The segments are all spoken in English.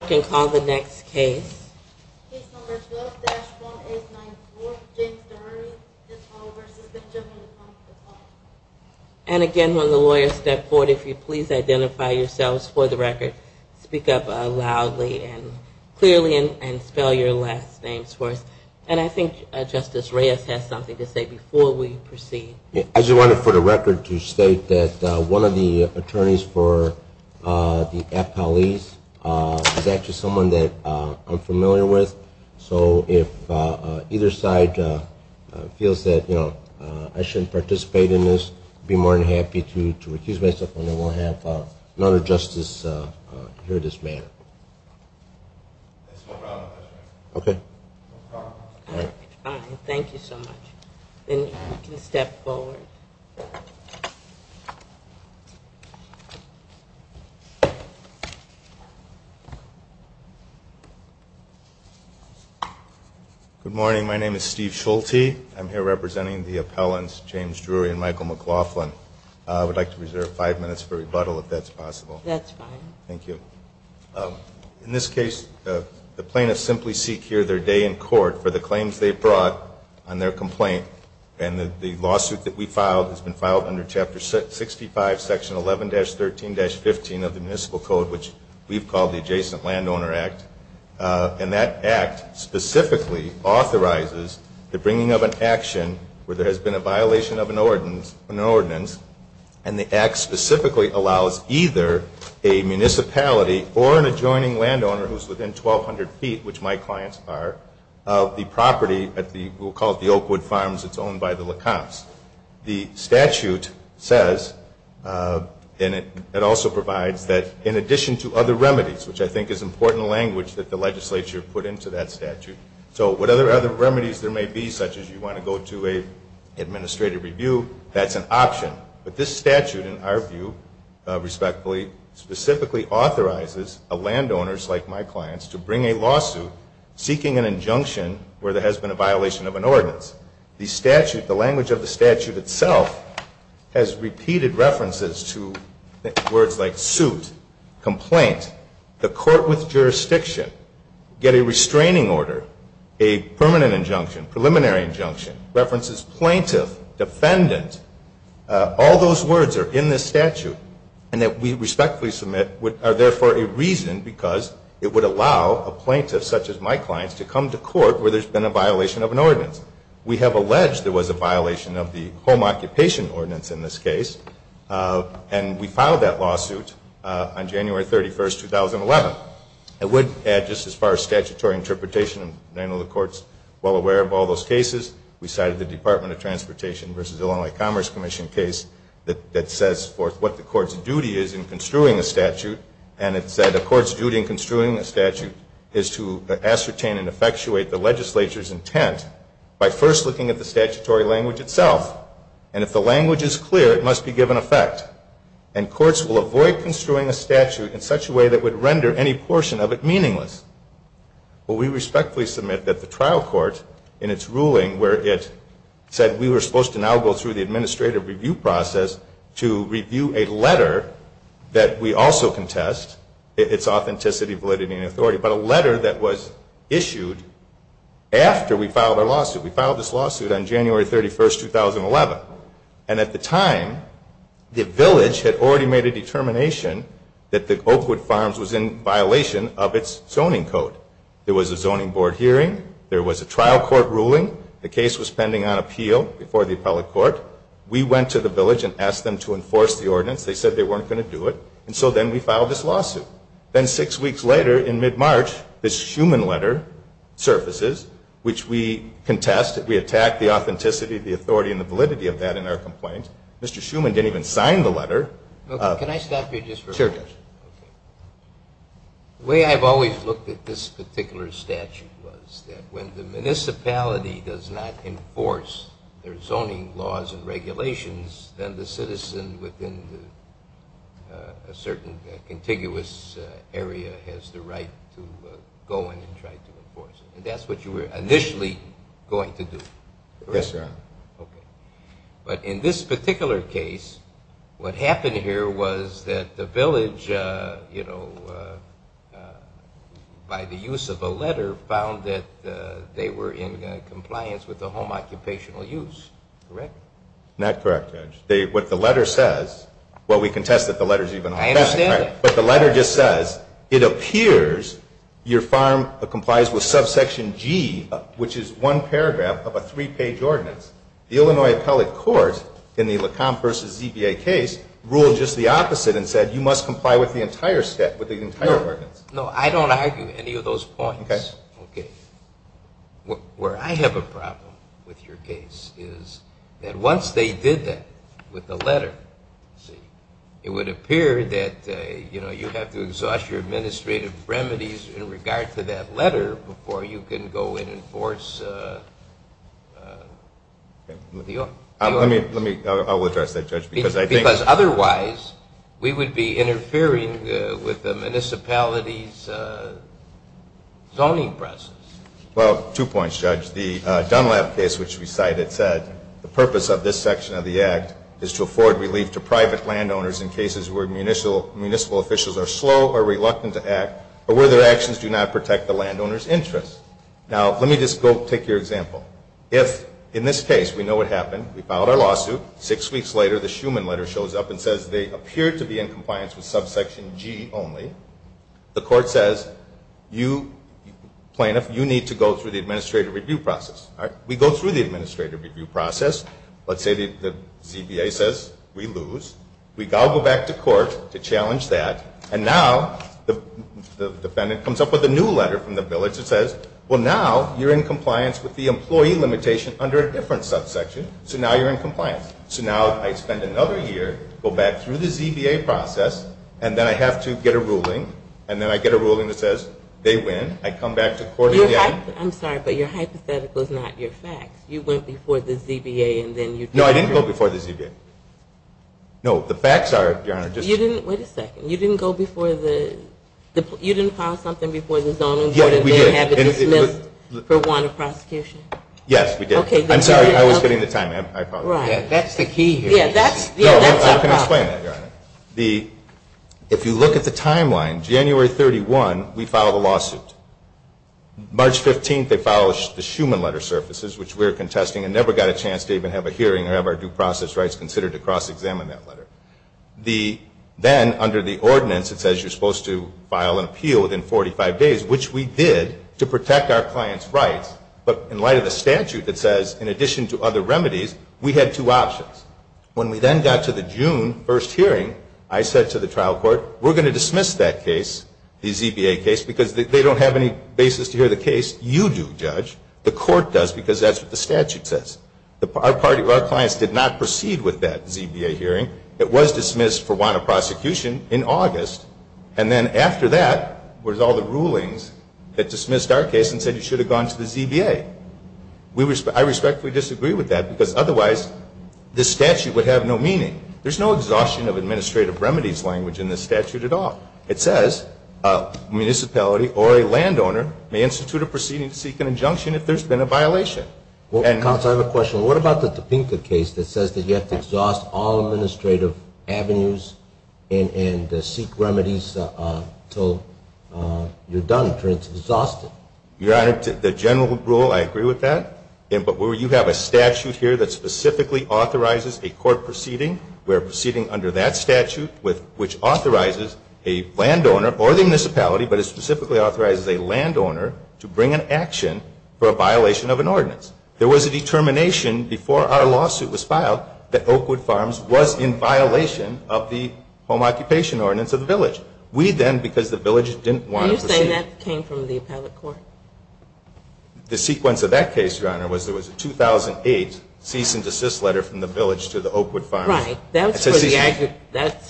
I can call the next case. Case number 12-1894 James DeMurray v. Benjamin LeCompte. And again when the lawyers step forward if you please identify yourselves for the record speak up loudly and clearly and spell your last names for us. And I think Justice Reyes has something to say before we proceed. I just wanted for the record to state that one of the attorneys for the appellees is actually someone that I'm familiar with. So if either side feels that I shouldn't participate in this I'd be more than happy to recuse myself and then we'll have another justice hear this matter. Thank you so much. And you can step forward. Good morning. My name is Steve Schulte. I'm here representing the appellants James Drury and Michael McLaughlin. I would like to reserve five minutes for rebuttal if that's possible. That's fine. Thank you. In this case the plaintiffs simply seek here their day in court for the claims they brought on their complaint. And the lawsuit that we filed has been filed under Chapter 65 Section 11-13-15 of the Municipal Code which we've called the Adjacent Landowner Act. And that act specifically authorizes the bringing of an action where there has been a violation of an ordinance. And the act specifically allows either a municipality or an adjoining landowner who's within 1,200 feet, which my clients are, of the property at the, we'll call it the Oakwood Farms. It's owned by the LaComps. The statute says, and it also provides that in addition to other remedies, which I think is important language that the legislature put into that statute, so what other remedies there may be such as you want to go to an administrative review, that's an option. But this statute in our view, respectfully, specifically authorizes landowners like my clients to bring a lawsuit seeking an injunction where there has been a violation of an ordinance. The statute, the language of the statute itself, has repeated references to words like suit, complaint, the court with jurisdiction, get a restraining order, a permanent injunction, preliminary injunction, references plaintiff, defendant. All those words are in this statute and that we respectfully submit are therefore a reason because it would allow a plaintiff such as my clients to come to court where there's been a violation of an ordinance. We have alleged there was a violation of the Home Occupation Ordinance in this case and we filed that lawsuit on January 31st, 2011. I would add just as far as statutory interpretation, I know the court's well aware of all those cases, we cited the Department of Transportation versus Illinois Commerce Commission case that says what the court's duty is in construing a statute and it said the court's duty in construing a statute is to ascertain and effectuate the legislature's intent by first looking at the statutory language itself. And if the language is clear, it must be given effect. And courts will avoid construing a statute in such a way that would render any portion of it meaningless. Well, we respectfully submit that the trial court in its ruling where it said we were supposed to now go through the administrative review process to review a letter that we also contest, its authenticity, validity, and authority. But a letter that was issued after we filed our lawsuit. We filed this lawsuit on January 31st, 2011. And at the time the village had already made a determination that the Oakwood Farms was in violation of its zoning ordinance. There was a zoning board hearing. There was a trial court ruling. The case was pending on appeal before the appellate court. We went to the village and asked them to enforce the ordinance. They said they weren't going to do it. And so then we filed this lawsuit. Then six weeks later, in mid-March, this Schumann letter surfaces, which we contest. We attack the authenticity, the authority, and the validity of that in our complaint. Mr. Schumann didn't even sign the letter. The way I've always looked at this particular statute was that when the municipality does not enforce their zoning laws and regulations, then the citizen within a certain contiguous area has the right to go in and try to enforce it. And that's what you were initially going to do. Yes, Your Honor. Okay. But in this particular case, what happened here was that the village, you know, by the use of a letter, found that they were in compliance with the home occupational use. Correct? No. Not correct, Judge. What the letter says, well, we contest that the letter is even authentic. I understand that. But the letter just says, it appears your farm complies with subsection G, which is one paragraph of a three-page ordinance. The Illinois appellate court, in the Lecomte v. ZBA case, ruled just the opposite and said you must comply with the entire ordinance. No, I don't argue any of those points. Okay. Okay. Where I have a problem with your case is that once they did that with the letter, see, it would appear that, you know, you have to exhaust your administrative remedies in regard to that letter before you can go in and enforce the ordinance. I will address that, Judge, because I think – Because otherwise, we would be interfering with the municipality's zoning process. Well, two points, Judge. The Dunlap case, which we cited, said the purpose of this section of the Act is to afford relief to private landowners in cases where municipal officials are slow or reluctant to act or where their actions do not protect the landowner's interests. Now, let me just go take your example. If, in this case, we know what happened. We filed our lawsuit. Six weeks later, the Schuman letter shows up and says they appear to be in compliance with subsection G only. The court says, plaintiff, you need to go through the administrative review process. All right. We go through the administrative review process. Let's say the ZBA says we lose. We go back to court to challenge that. And now the defendant comes up with a new letter from the village that says, well, now you're in compliance with the employment limitation under a different subsection. So now you're in compliance. So now I spend another year, go back through the ZBA process, and then I have to get a ruling. And then I get a ruling that says they win. I come back to court. I'm sorry, but your hypothetical is not your facts. You went before the ZBA, and then you didn't agree. No, I didn't go before the ZBA. No, the facts are, Your Honor, just. You didn't, wait a second. You didn't go before the, you didn't file something before the zoning board and then have it dismissed for want of prosecution? Yes, we did. I'm sorry, I was getting the time. That's the key here. I can explain that, Your Honor. If you look at the timeline, January 31, we filed a lawsuit. March 15, they filed the Schumann letter surfaces, which we're contesting and never got a chance to even have a hearing or have our due process rights considered to cross-examine that letter. Then, under the ordinance, it says you're supposed to file an appeal within 45 days, which we did to protect our client's rights. But in light of the statute that says, in addition to other remedies, we had two options. When we then got to the June 1 hearing, I said to the trial court, we're going to dismiss that case, the ZBA case, because they don't have any other options. They don't have any basis to hear the case. You do, Judge. The court does, because that's what the statute says. Our clients did not proceed with that ZBA hearing. It was dismissed for want of prosecution in August. And then after that was all the rulings that dismissed our case and said you should have gone to the ZBA. I respectfully disagree with that, because otherwise this statute would have no meaning. There's no exhaustion of administrative remedies language in this statute at all. It says a municipality or a landowner may institute a proceeding to seek an injunction if there's been a violation. Counsel, I have a question. What about the Topeka case that says that you have to exhaust all administrative avenues and seek remedies until you're done, until it's exhausted? Your Honor, the general rule, I agree with that. But where you have a statute here that specifically authorizes a court proceeding, we're proceeding under that statute, which authorizes a landowner or the municipality, but it specifically authorizes a landowner to bring an action for a violation of an ordinance. There was a determination before our lawsuit was filed that Oakwood Farms was in violation of the home occupation ordinance of the village. We then, because the village didn't want to proceed. Are you saying that came from the appellate court? The sequence of that case, Your Honor, was there was a 2008 cease and desist letter from the village to the Oakwood Farms. Right. That's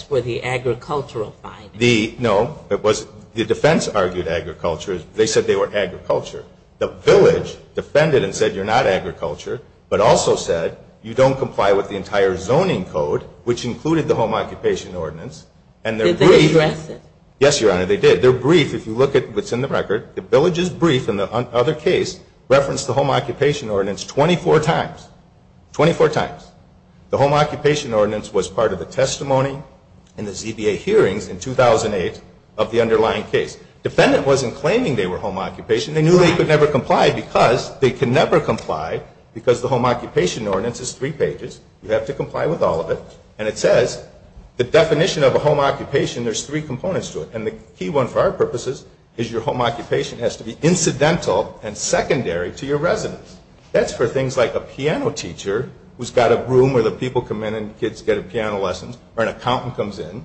for the agricultural findings. No. The defense argued agriculture. They said they were agriculture. The village defended and said you're not agriculture, but also said you don't comply with the entire zoning code, which included the home occupation ordinance. Did they address it? Yes, Your Honor, they did. They're brief. If you look at what's in the record, the village is brief, and the other case referenced the home occupation ordinance 24 times. 24 times. The home occupation ordinance was part of the testimony in the ZBA hearings in 2008 of the underlying case. Defendant wasn't claiming they were home occupation. They knew they could never comply because they can never comply because the home occupation ordinance is three pages. You have to comply with all of it. And it says the definition of a home occupation, there's three components to it. And the key one for our purposes is your home occupation has to be incidental and secondary to your residence. That's for things like a piano teacher who's got a room where the people come in and kids get piano lessons or an accountant comes in.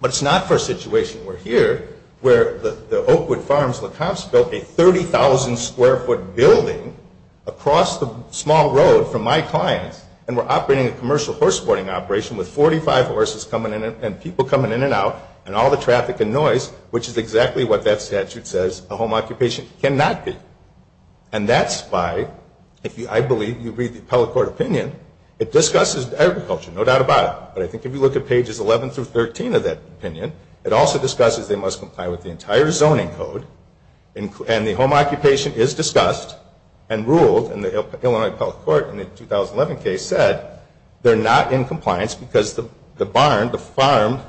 But it's not for a situation. We're here where the Oakwood Farms and the Comps built a 30,000 square foot building across the small road from my clients and we're operating a commercial horse boarding operation with 45 horses coming in and people coming in and out and all the traffic and noise, which is exactly what that statute says a home occupation cannot be. And that's by, I believe you read the appellate court opinion, it discusses agriculture, no doubt about it. But I think if you look at pages 11 through 13 of that opinion, it also discusses they must comply with the entire zoning code. And the home occupation is discussed and ruled in the Illinois appellate court in the 2011 case said they're not in compliance because the barn, the farm,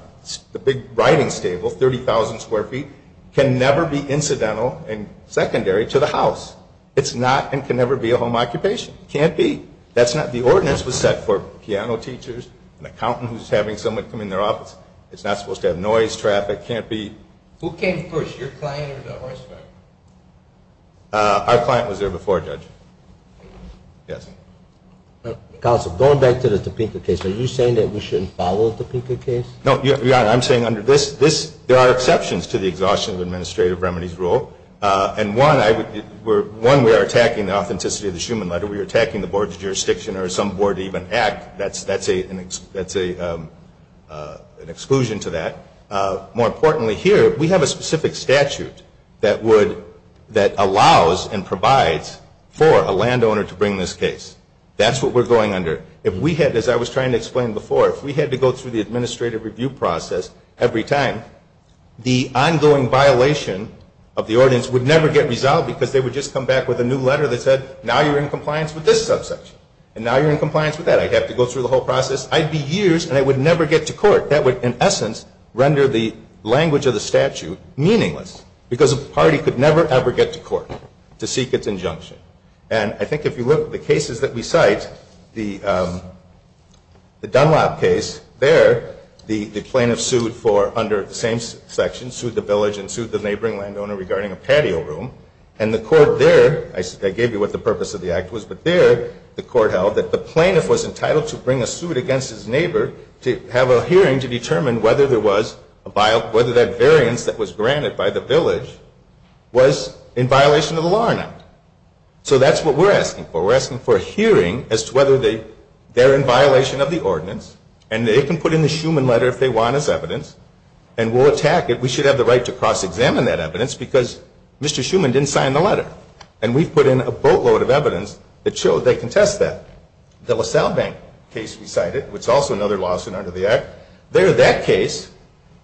the big riding stable, 30,000 square feet, can never be incidental and secondary to the house. It's not and can never be a home occupation. Can't be. That's not, the ordinance was set for piano teachers, an accountant who's having someone come in their office. It's not supposed to have noise, traffic, can't be. Who came first, your client or the horse driver? Our client was there before, Judge. Yes. Counsel, going back to the Topeka case, are you saying that we shouldn't follow the Topeka case? No, Your Honor, I'm saying under this, there are exceptions to the Exhaustion of Administrative Remedies Rule. And one, we are attacking the authenticity of the Schumann letter, we are attacking the board's jurisdiction or some board even act, that's an exclusion to that. More importantly here, we have a specific statute that would, that allows and provides for a landowner to bring this case. That's what we're going under. If we had, as I was trying to explain before, if we had to go through the administrative review process every time, the ongoing violation of the ordinance would never get resolved because they would just come back with a new letter that said, now you're in compliance with this subsection. And now you're in compliance with that. I'd have to go through the whole process. I'd be years and I would never get to court. That would, in essence, render the language of the statute meaningless because a party could never ever get to court to seek its injunction. And I think if you look at the cases that we cite, the Dunlop case, there the plaintiff sued for under the same section, sued the village and sued the neighboring landowner regarding a patio room. And the court there, I gave you what the purpose of the act was, but there the court held that the plaintiff was entitled to bring a suit against his neighbor to have a hearing to determine whether there was, whether that variance that was granted by the village was in violation of the Lawren Act. So that's what we're asking for. We're asking for a hearing as to whether they're in violation of the ordinance and they can put in the Schuman letter if they want as evidence and we'll attack it. We should have the right to cross-examine that evidence because Mr. Schuman didn't sign the letter. And we've put in a boatload of evidence that showed they contest that. The LaSalle Bank case we cited, which is also another lawsuit under the act, there that case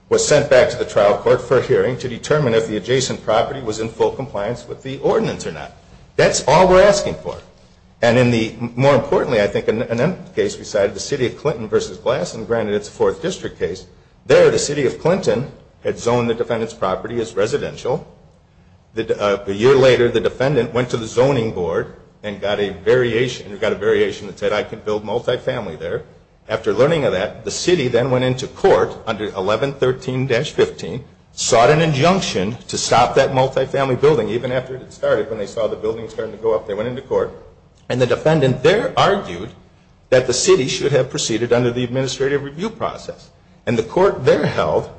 was sent back to the trial court for a hearing to determine if the adjacent property was in full compliance with the ordinance or not. That's all we're asking for. And in the, more importantly, I think in the case we cited, the City of Clinton v. Glasson granted its fourth district case, there the City of Clinton had zoned the defendant's property as residential. A year later the defendant went to the zoning board and got a variation, that said I can build multifamily there. After learning of that, the city then went into court under 1113-15, sought an injunction to stop that multifamily building even after it had started, when they saw the building starting to go up, they went into court. And the defendant there argued that the city should have proceeded under the administrative review process. And the court there held,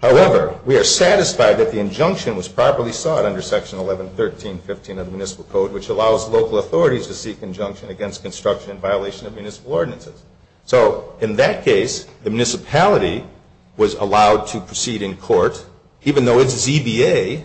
however, we are satisfied that the injunction was properly sought under Section 1113.15 of the Municipal Code, which allows local authorities to seek injunction against construction in violation of municipal ordinances. So in that case, the municipality was allowed to proceed in court, even though its ZBA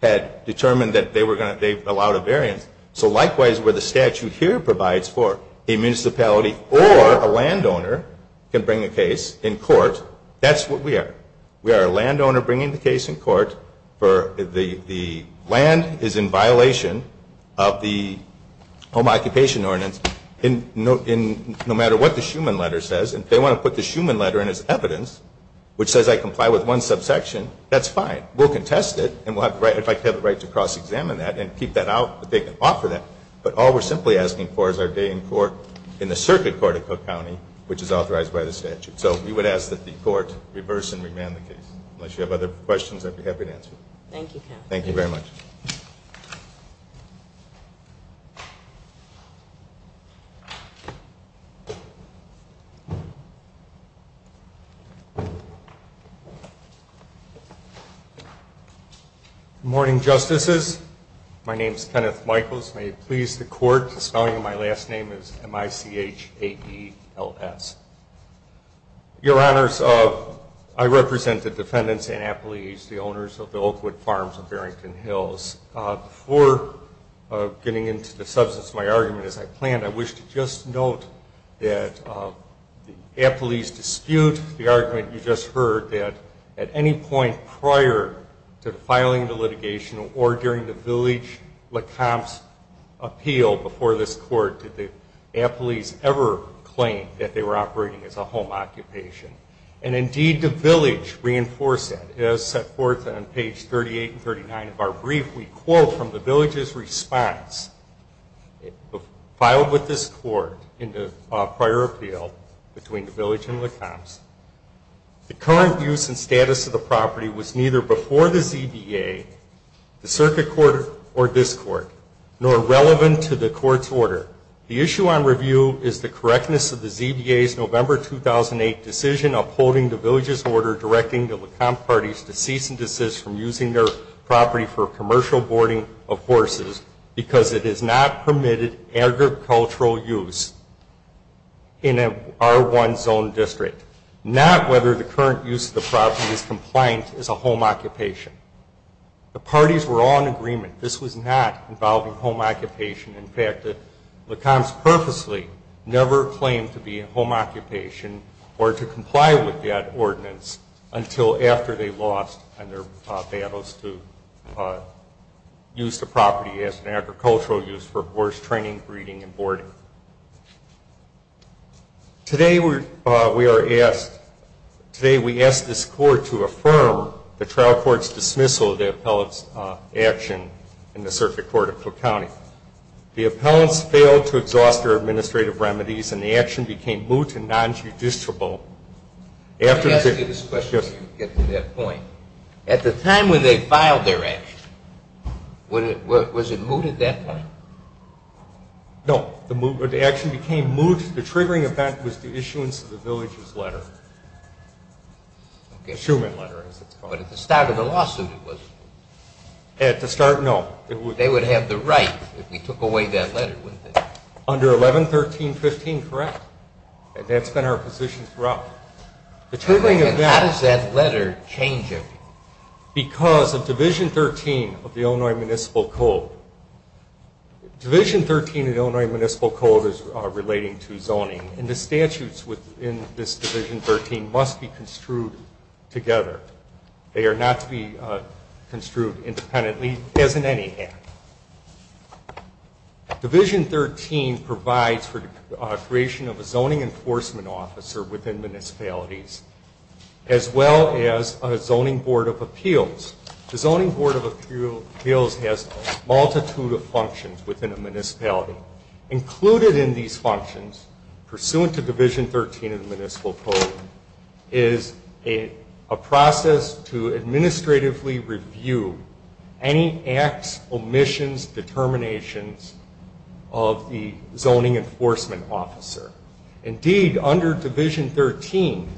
had determined that they were going to, they allowed a variance. So likewise, where the statute here provides for a municipality or a landowner can bring a case in court, that's what we are. We are a landowner bringing the case in court for the land is in violation of the Home Occupation Ordinance, no matter what the Schumann letter says. If they want to put the Schumann letter in as evidence, which says I comply with one subsection, that's fine. We'll contest it, and if I have the right to cross-examine that and keep that out, they can offer that. But all we are simply asking for is our day in court in the circuit court of Cook County, which is authorized by the statute. So we would ask that the court reverse and remand the case. Unless you have other questions, I'd be happy to answer them. Thank you very much. Good morning, Justices. My name is Kenneth Michaels. May it please the Court, the spelling of my last name is M-I-C-H-A-E-L-S. Your Honors, I represent the defendants and appellees, the owners of the Oakwood Farms of Barrington Hills. Before getting into the substance of my argument as I planned, I wish to just note that the appellees dispute the argument you just heard, that at any point prior to filing the litigation or during the Village-LaCombe's appeal before this Court, did the appellees ever claim that they were operating as a home occupation. And indeed, the Village reinforced that. As set forth on page 38 and 39 of our brief, we quote from the Village's response filed with this Court in the prior appeal between the Circuit Court or this Court, nor relevant to the Court's order. The issue on review is the correctness of the ZBA's November 2008 decision upholding the Village's order directing the LaCombe parties to cease and desist from using their property for commercial boarding of horses because it has not permitted agricultural use in an R1 zone district. Not whether the current use of the property is compliant as a home occupation. The parties were all in agreement this was not involving home occupation. In fact, the LaCombe's purposely never claimed to be a home occupation or to comply with that ordinance until after they lost and their battles to use the property as an agricultural use for horse training, breeding, and boarding. Today we are asked, today we ask this Court to affirm the trial court's dismissal of the appellant's action in the Circuit Court of Cook County. The appellants failed to exhaust their administrative remedies and the time when they filed their action, was it moot at that point? No, the action became moot. The triggering event was the issuance of the Village's letter. But at the start of the lawsuit it was? At the start, no. They would have the right if we took away that letter, wouldn't they? Under 11-13-15, correct. That's been our position How does that letter change it? Because of Division 13 of the Illinois Municipal Code. Division 13 of the Illinois Municipal Code is relating to zoning and the statutes within this Division 13 must be construed together. They are not to be construed independently as in any act. Division 13 provides for the creation of a zoning enforcement officer within municipalities as well as a zoning board of appeals. The zoning board of appeals has a multitude of functions within a municipality. Included in these functions pursuant to Division 13 of the Municipal Code is a process to administratively review any acts, omissions, determinations of the zoning enforcement officer. Indeed, under Division 13,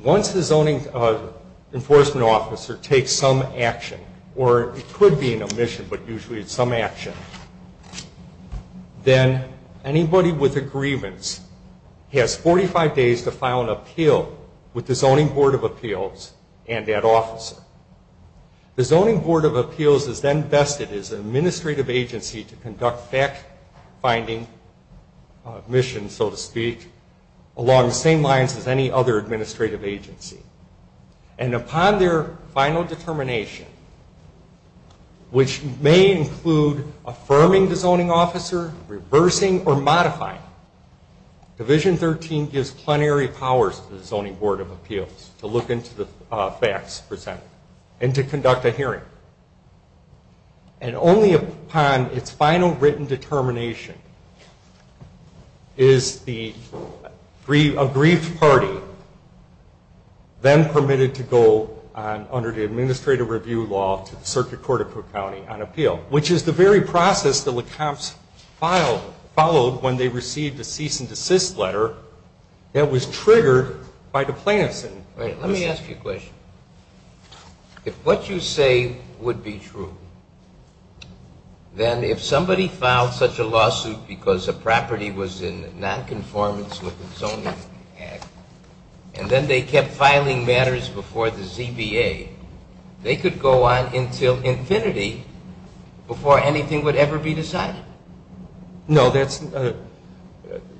once the zoning enforcement officer takes some action, or it could be an omission, but usually it's some action, then anybody with agreements has 45 days to lines as any other administrative agency. And upon their final determination, which may include affirming the zoning officer, reversing or modifying, Division 13 gives plenary powers to the zoning board of appeals to look into the facts presented and to conduct a hearing. And only upon its final written determination is a brief party then permitted to go was triggered by the plaintiffs. Let me ask you a question. If what you say would be true, then if somebody filed such a lawsuit because a property was in nonconformance with the zoning act, and then they kept filing matters before the ZBA, they could go on until infinity before anything would ever be decided? No, that's,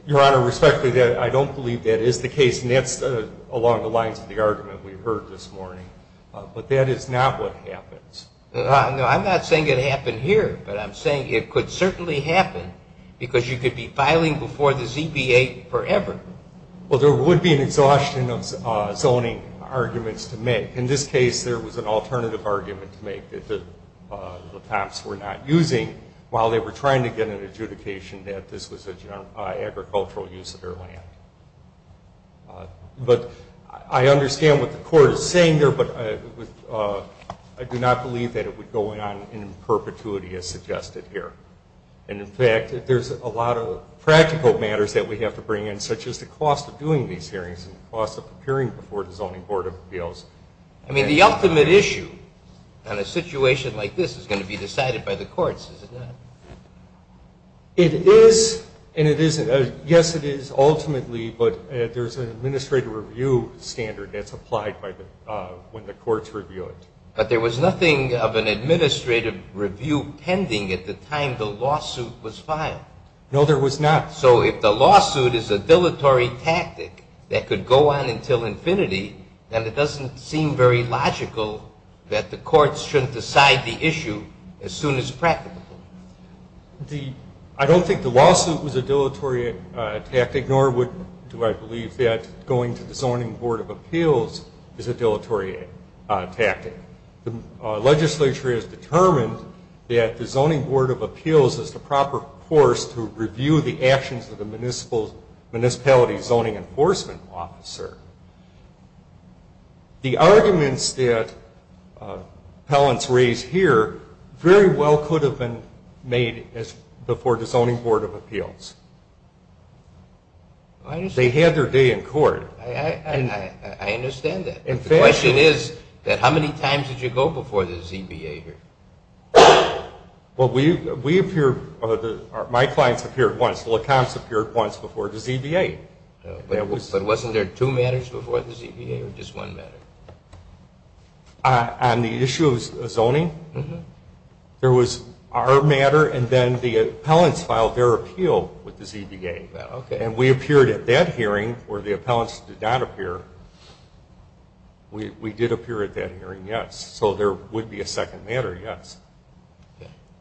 Your Honor, respectfully, I don't believe that is the case. And that's along the lines of the argument we heard this morning. But that is not what happens. No, I'm not saying it happened here, but I'm saying it could certainly happen because you could be filing before the ZBA forever. Well, there would be an exhaustion of zoning arguments to make. In this case, there was an alternative argument to make, that the cops were not using while they were trying to get an adjudication that this was an agricultural use of their land. But I understand what the court is saying there, but I do not believe that that is the case. I do not believe that it would go on in perpetuity as suggested here. And in fact, there's a lot of practical matters that we have to bring in, such as the cost of doing these hearings and the cost of appearing before the Zoning Board of Appeals. I mean, the ultimate issue on a situation like this is going to be decided by the courts, is it not? It is, and it isn't. Yes, it is, ultimately, but there's an administrative review standard that's applied when the courts review it. But there was nothing of an administrative review pending at the time the lawsuit was filed. No, there was not. So if the lawsuit is a dilatory tactic that could go on until infinity, then it doesn't seem very logical that the courts shouldn't decide the issue as soon as practical. I don't think the lawsuit was a dilatory tactic, nor do I believe that going to the Zoning Board of Appeals is a dilatory tactic. The legislature has determined that the Zoning Board of Appeals is the proper force to review the actions of the municipality zoning enforcement officer. The arguments that appellants raise here very well could have been made before the Zoning Board of Appeals. They had their day in court. I understand that. The question is, how many times did you go before the ZBA here? Well, my clients appeared once, the LaCombe's appeared once before the ZBA. But wasn't there two matters before the ZBA, or just one matter? On the issue of zoning, there was our matter, and then the appellants filed their appeal with the ZBA. And we appeared at that hearing where the appellants did not appear. We did appear at that hearing, yes. So there would be a second matter, yes.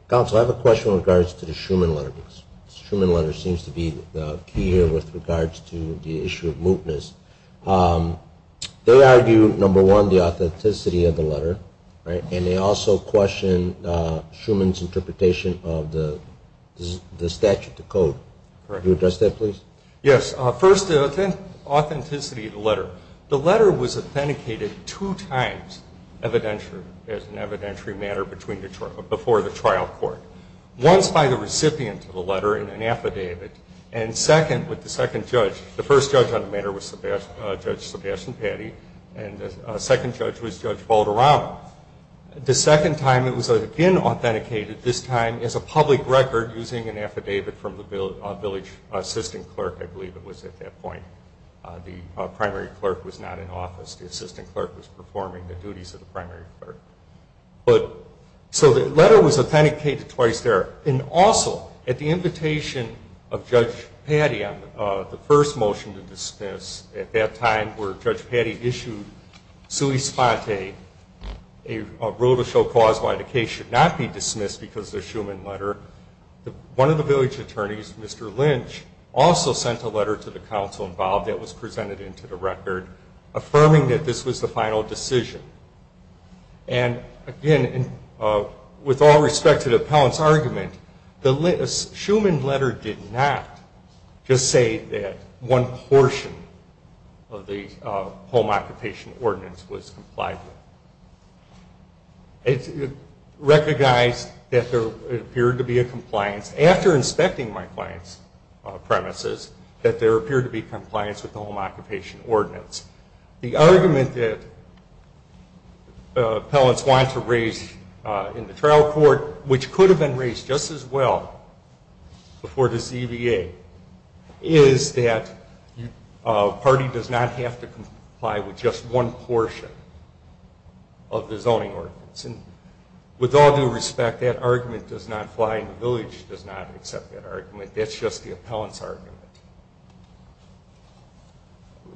Counsel, I have a question with regards to the Schumann letter. The Schumann letter seems to be the key here with regards to the issue of mootness. They argue, number one, the authenticity of the letter, and they also question Schumann's interpretation of the statute, the code. Can you address that, please? Yes. First, the authenticity of the letter. The letter was authenticated two times evidentiary, as an evidentiary matter before the trial court. Once by the recipient of the letter in an affidavit, and second with the second judge. The first judge on the matter was Judge Sebastian Patti, and the second judge was Judge Valderrama. The second time it was again authenticated, this time as a public record using an affidavit from the village assistant clerk, I believe it was at that point. The primary clerk was not in office. The assistant clerk was performing the duties of the primary clerk. So the letter was authenticated twice there. And also, at the invitation of Judge Patti on the first motion to dismiss at that time where Judge Patti issued sui sponte, a rule to show cause why the case should not be dismissed because of the Schumann letter, one of the village attorneys, Mr. Lynch, also sent a letter to the counsel involved that was presented into the record affirming that this was the final decision. And again, with all respect to the appellant's argument, the Schumann letter did not just say that one portion of the home occupation ordinance was complied with. It recognized that there appeared to be a compliance, after inspecting my client's premises, that there appeared to be compliance with the home occupation ordinance. The argument that appellants want to raise in the trial court, which could have been raised just as well before this EVA, is that a party does not have to comply with just one portion of the zoning ordinance. And with all due respect, that argument does not fly and the village does not accept that argument. That's just the appellant's argument.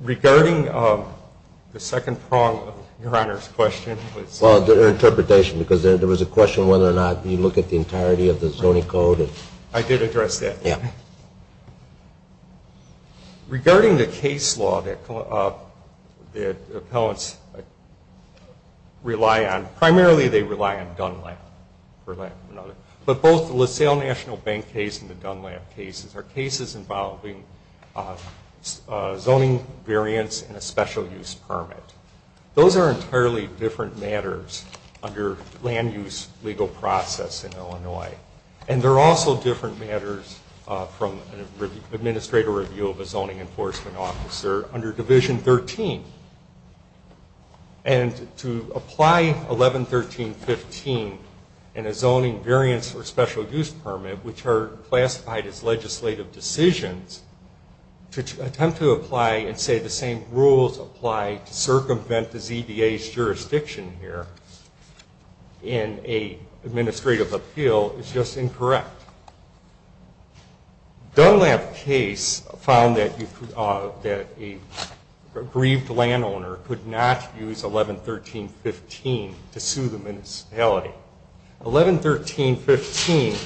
Regarding the second prong of Your Honor's question. Well, their interpretation, because there was a question whether or not you look at the entirety of the zoning code. Yeah. Regarding the case law that appellants rely on, primarily they rely on Dunlap, for lack of another. But both the LaSalle National Bank case and the Dunlap cases are cases involving zoning variance and a special use permit. Those are entirely different matters under land use legal process in Illinois. And they're also different matters from an administrator review of a zoning enforcement officer under Division 13. And to apply 11.13.15 and a zoning variance or special use permit, which are classified as legislative decisions, to attempt to apply and say the same rules apply to circumvent the ZBA's jurisdiction here in an administrative appeal is just incorrect. Dunlap case found that a grieved landowner could not use 11.13.15 to sue the municipality. 11.13.15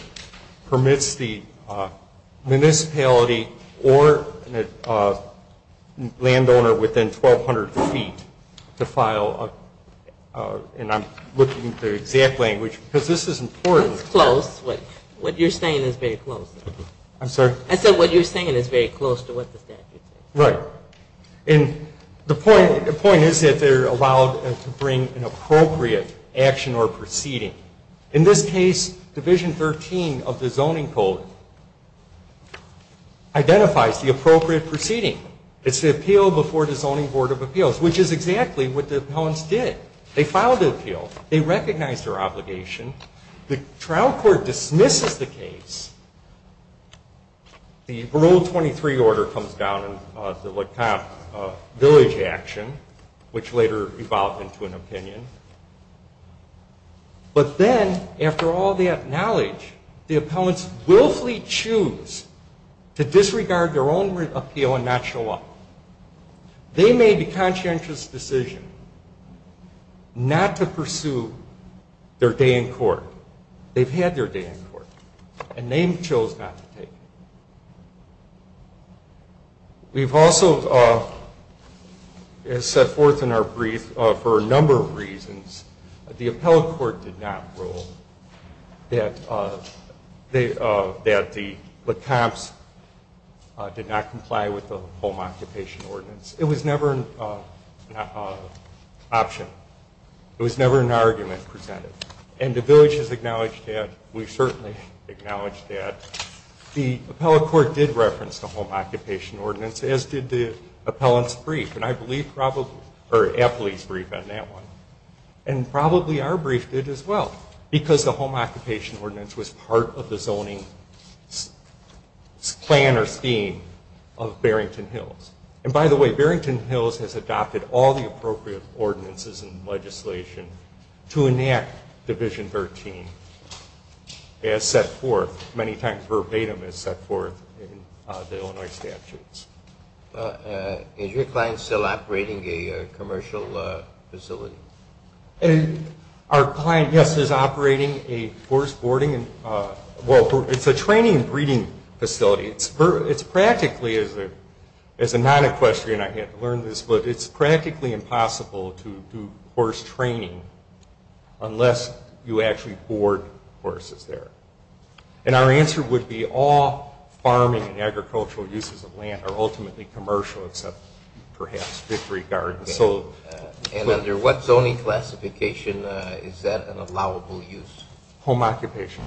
permits the municipality or landowner within 1,200 feet to file, and I'm looking at the exact language, because this is important. Because it's close. What you're saying is very close. I'm sorry? I said what you're saying is very close to what the statute says. Right. And the point is that they're allowed to bring an appropriate action or proceeding. In this case, Division 13 of the zoning code identifies the appropriate proceeding. It's the appeal before the Zoning Board of Appeals, which is exactly what the appellants did. They filed the appeal. They recognized their obligation. The trial court dismisses the case. The parole 23 order comes down in the village action, which later evolved into an opinion. But then, after all that knowledge, the appellants willfully choose to disregard their own appeal and not show up. They made a conscientious decision not to pursue their day in court. They've had their day in court, and they chose not to take it. We've also, as set forth in our brief, for a number of reasons, the appellate court did not rule that the LeComps did not comply with the Home Occupation Ordinance. It was never an option. It was never an argument presented. And the village has acknowledged that. We've certainly acknowledged that. The appellate court did reference the Home Occupation Ordinance, as did the appellant's brief, and I believe probably, or appellee's brief on that one. And probably our brief did as well, because the Home Occupation Ordinance was part of the zoning plan or scheme of Barrington Hills. And by the way, Barrington Hills has adopted all the appropriate ordinances and legislation to enact Division 13, as set forth, many times verbatim, as set forth in the Illinois statutes. Is your client still operating a commercial facility? Our client, yes, is operating a forest boarding and, well, it's a training and breeding facility. It's practically, as a non-equestrian, I had to learn this, but it's practically impossible to do horse training unless you actually board horses there. And our answer would be all farming and agricultural uses of land are ultimately commercial, except perhaps victory gardens. And under what zoning classification is that an allowable use? Home occupation.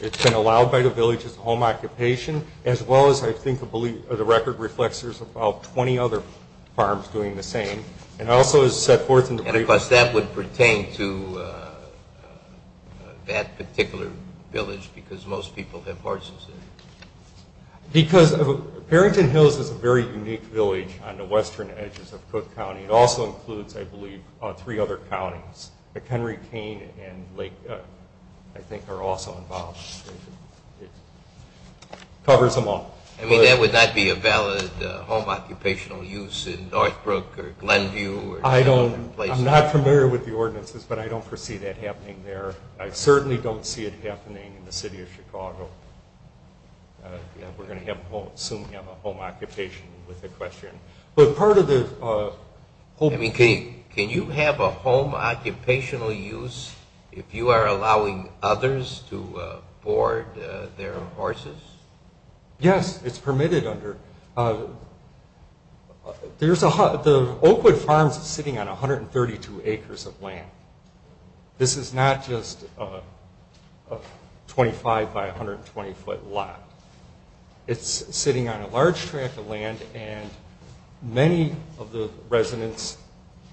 It's been allowed by the village as home occupation, as well as I think the record reflects there's about 20 other farms doing the same. And also as set forth in the brief. And of course that would pertain to that particular village, because most people have horses there. Because Barrington Hills is a very unique village on the western edges of Cook County. It also includes, I believe, three other counties. Henry Cane and Lake, I think, are also involved. It covers them all. I mean, that would not be a valid home occupational use in Northbrook or Glenview? I'm not familiar with the ordinances, but I don't foresee that happening there. I certainly don't see it happening in the city of Chicago. We're going to soon have a home occupation with equestrian. But part of the... I mean, can you have a home occupational use if you are allowing others to board their horses? Yes, it's permitted under... The Oakwood Farms is sitting on 132 acres of land. This is not just a 25 by 120 foot lot. It's sitting on a large tract of land, and many of the residents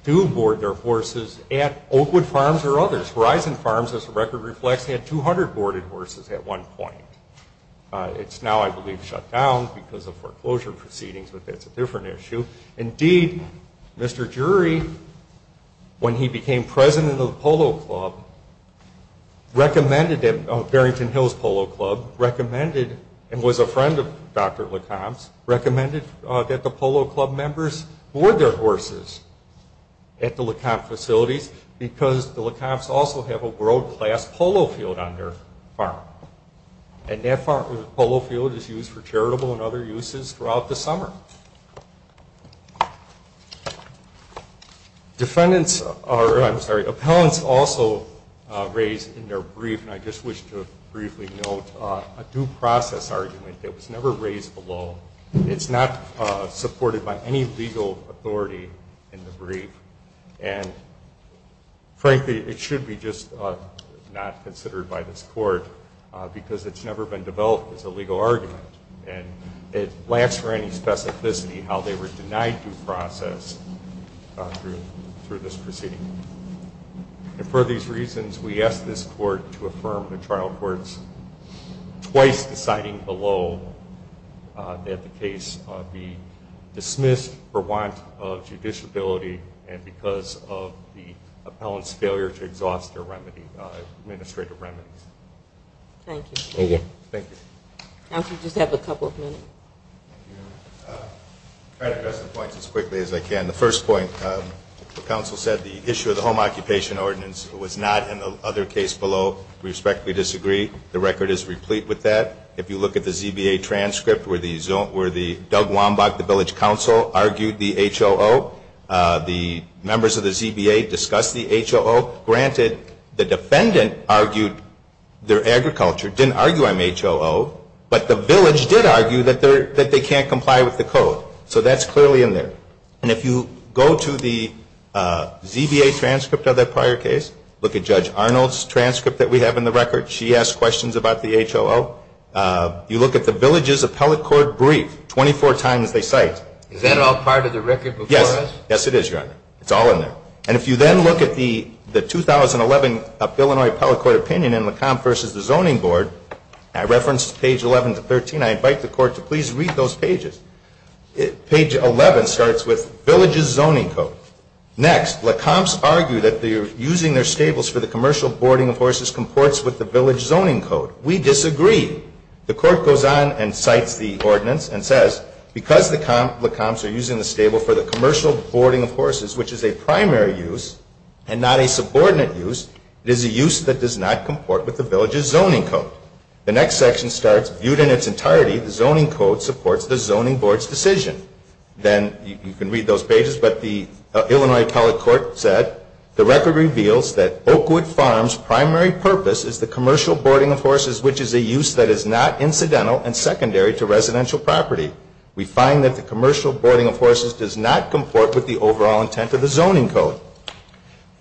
do board their horses at Oakwood Farms or others. Horizon Farms, as the record reflects, had 200 boarded horses at one point. It's now, I believe, shut down because of foreclosure proceedings, but that's a different issue. Indeed, Mr. Jury, when he became president of the polo club, recommended that... and was a friend of Dr. Lecomte's, recommended that the polo club members board their horses at the Lecomte facilities because the Lecomtes also have a world-class polo field on their farm, and that polo field is used for charitable and other uses throughout the summer. Defendants are... I'm sorry, appellants also raise in their brief, and I just wish to briefly note, a due process argument that was never raised below. It's not supported by any legal authority in the brief, and frankly, it should be just not considered by this court because it's never been developed as a legal argument, and it lacks for any specificity how they were denied due process through this proceeding. And for these reasons, we ask this court to affirm the trial courts twice deciding below that the case be dismissed for want of judiciability and because of the appellant's failure to exhaust their remedy, administrative remedies. Thank you. Thank you. Counsel, you just have a couple of minutes. I'll address the points as quickly as I can. The first point, the counsel said the issue of the Home Occupation Ordinance was not in the other case below. We respectfully disagree. The record is replete with that. If you look at the ZBA transcript where Doug Wambach, the village counsel, argued the HOO, the members of the ZBA discussed the HOO. Granted, the defendant argued their agriculture, didn't argue I'm HOO, but the village did argue that they can't comply with the code, so that's clearly in there. And if you go to the ZBA transcript of that prior case, look at Judge Arnold's transcript that we have in the record. She asked questions about the HOO. You look at the village's appellate court brief, 24 times they cite. Is that all part of the record before us? Yes. Yes, it is, Your Honor. It's all in there. And if you then look at the 2011 Illinois appellate court opinion in LeCombe versus the Zoning Board, I referenced page 11 to 13. I invite the court to please read those pages. Page 11 starts with village's zoning code. Next, LeCombe's argue that using their stables for the commercial boarding of horses comports with the village zoning code. We disagree. The court goes on and cites the ordinance and says, because LeCombe's are using the stable for the commercial boarding of horses, which is a primary use and not a subordinate use, it is a use that does not comport with the village's zoning code. The next section starts, viewed in its entirety, the zoning code supports the zoning board's decision. Then you can read those pages, but the Illinois appellate court said, the record reveals that Oakwood Farm's primary purpose is the commercial boarding of horses, which is a use that is not incidental and secondary to residential property. We find that the commercial boarding of horses does not comport with the overall intent of the zoning code.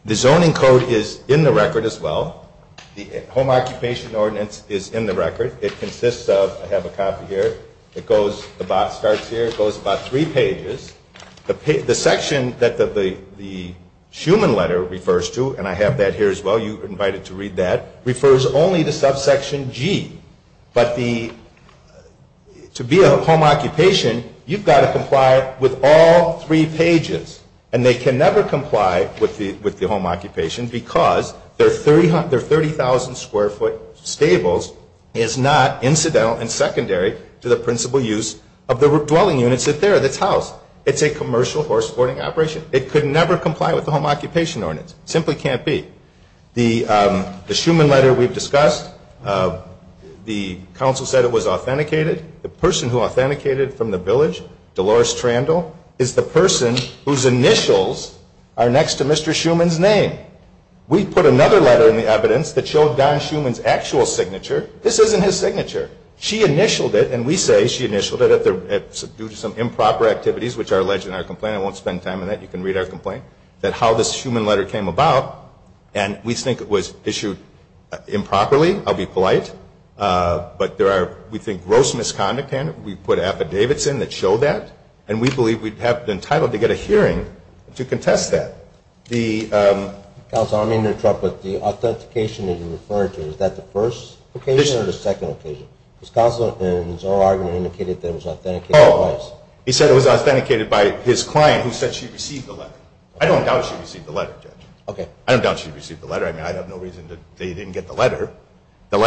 The zoning code is in the record as well. The home occupation ordinance is in the record. It consists of, I have a copy here, it goes, the box starts here, it goes about three pages. The section that the Schumann letter refers to, and I have that here as well, you're invited to read that, refers only to subsection G. But the, to be a home occupation, you've got to comply with all three pages. And they can never comply with the home occupation because their 30,000 square foot stables is not incidental and secondary to the principal use of the dwelling units that's there, that's housed. It's a commercial horse boarding operation. It could never comply with the home occupation ordinance. It simply can't be. The Schumann letter we've discussed, the council said it was authenticated. The person who authenticated from the village, Dolores Trandle, is the person whose initials are next to Mr. Schumann's name. We put another letter in the evidence that showed Don Schumann's actual signature. This isn't his signature. She initialed it, and we say she initialed it due to some improper activities, which are alleged in our complaint. I won't spend time on that. You can read our complaint, that how this Schumann letter came about. And we think it was issued improperly. I'll be polite. But there are, we think, gross misconduct in it. We put affidavits in that show that. And we believe we'd have been entitled to get a hearing to contest that. Counsel, I don't mean to interrupt, but the authentication that you referred to, is that the first occasion or the second occasion? Because counsel, in his oral argument, indicated that it was authenticated twice. He said it was authenticated by his client who said she received the letter. I don't doubt she received the letter, Judge. Okay. I don't doubt she received the letter. I mean, I have no reason that they didn't get the letter. And the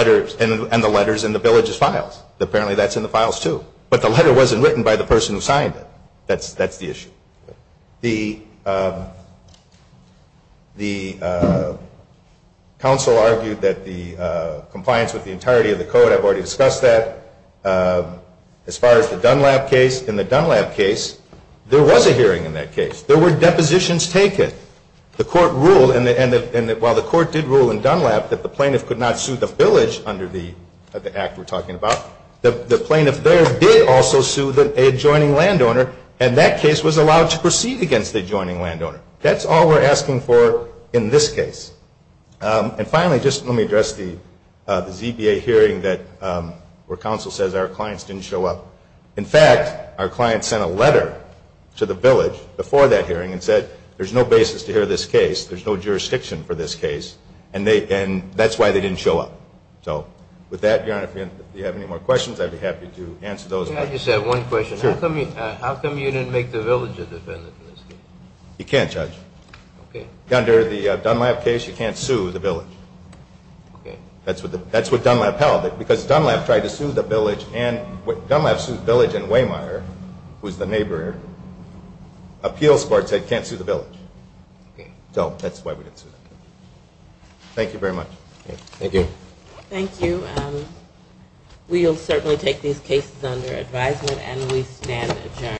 letter is in the village's files. Apparently that's in the files, too. But the letter wasn't written by the person who signed it. That's the issue. The counsel argued that the compliance with the entirety of the code, I've already discussed that, as far as the Dunlap case. In the Dunlap case, there was a hearing in that case. There were depositions taken. The court ruled, and while the court did rule in Dunlap that the plaintiff could not sue the village under the act we're talking about, the plaintiff there did also sue the adjoining landowner, and that case was allowed to proceed against the adjoining landowner. That's all we're asking for in this case. And finally, just let me address the ZBA hearing where counsel says our clients didn't show up. In fact, our client sent a letter to the village before that hearing and said, there's no basis to hear this case, there's no jurisdiction for this case, and that's why they didn't show up. So with that, Your Honor, if you have any more questions, I'd be happy to answer those. I just have one question. Sure. How come you didn't make the village a defendant in this case? You can't, Judge. Okay. Under the Dunlap case, you can't sue the village. Okay. That's what Dunlap held, because Dunlap tried to sue the village, and Dunlap sued the village, and Waymire, who's the neighbor, appeals court said can't sue the village. Okay. So that's why we didn't sue the village. Thank you very much. Thank you. Thank you. We'll certainly take these cases under advisement, and we stand adjourned.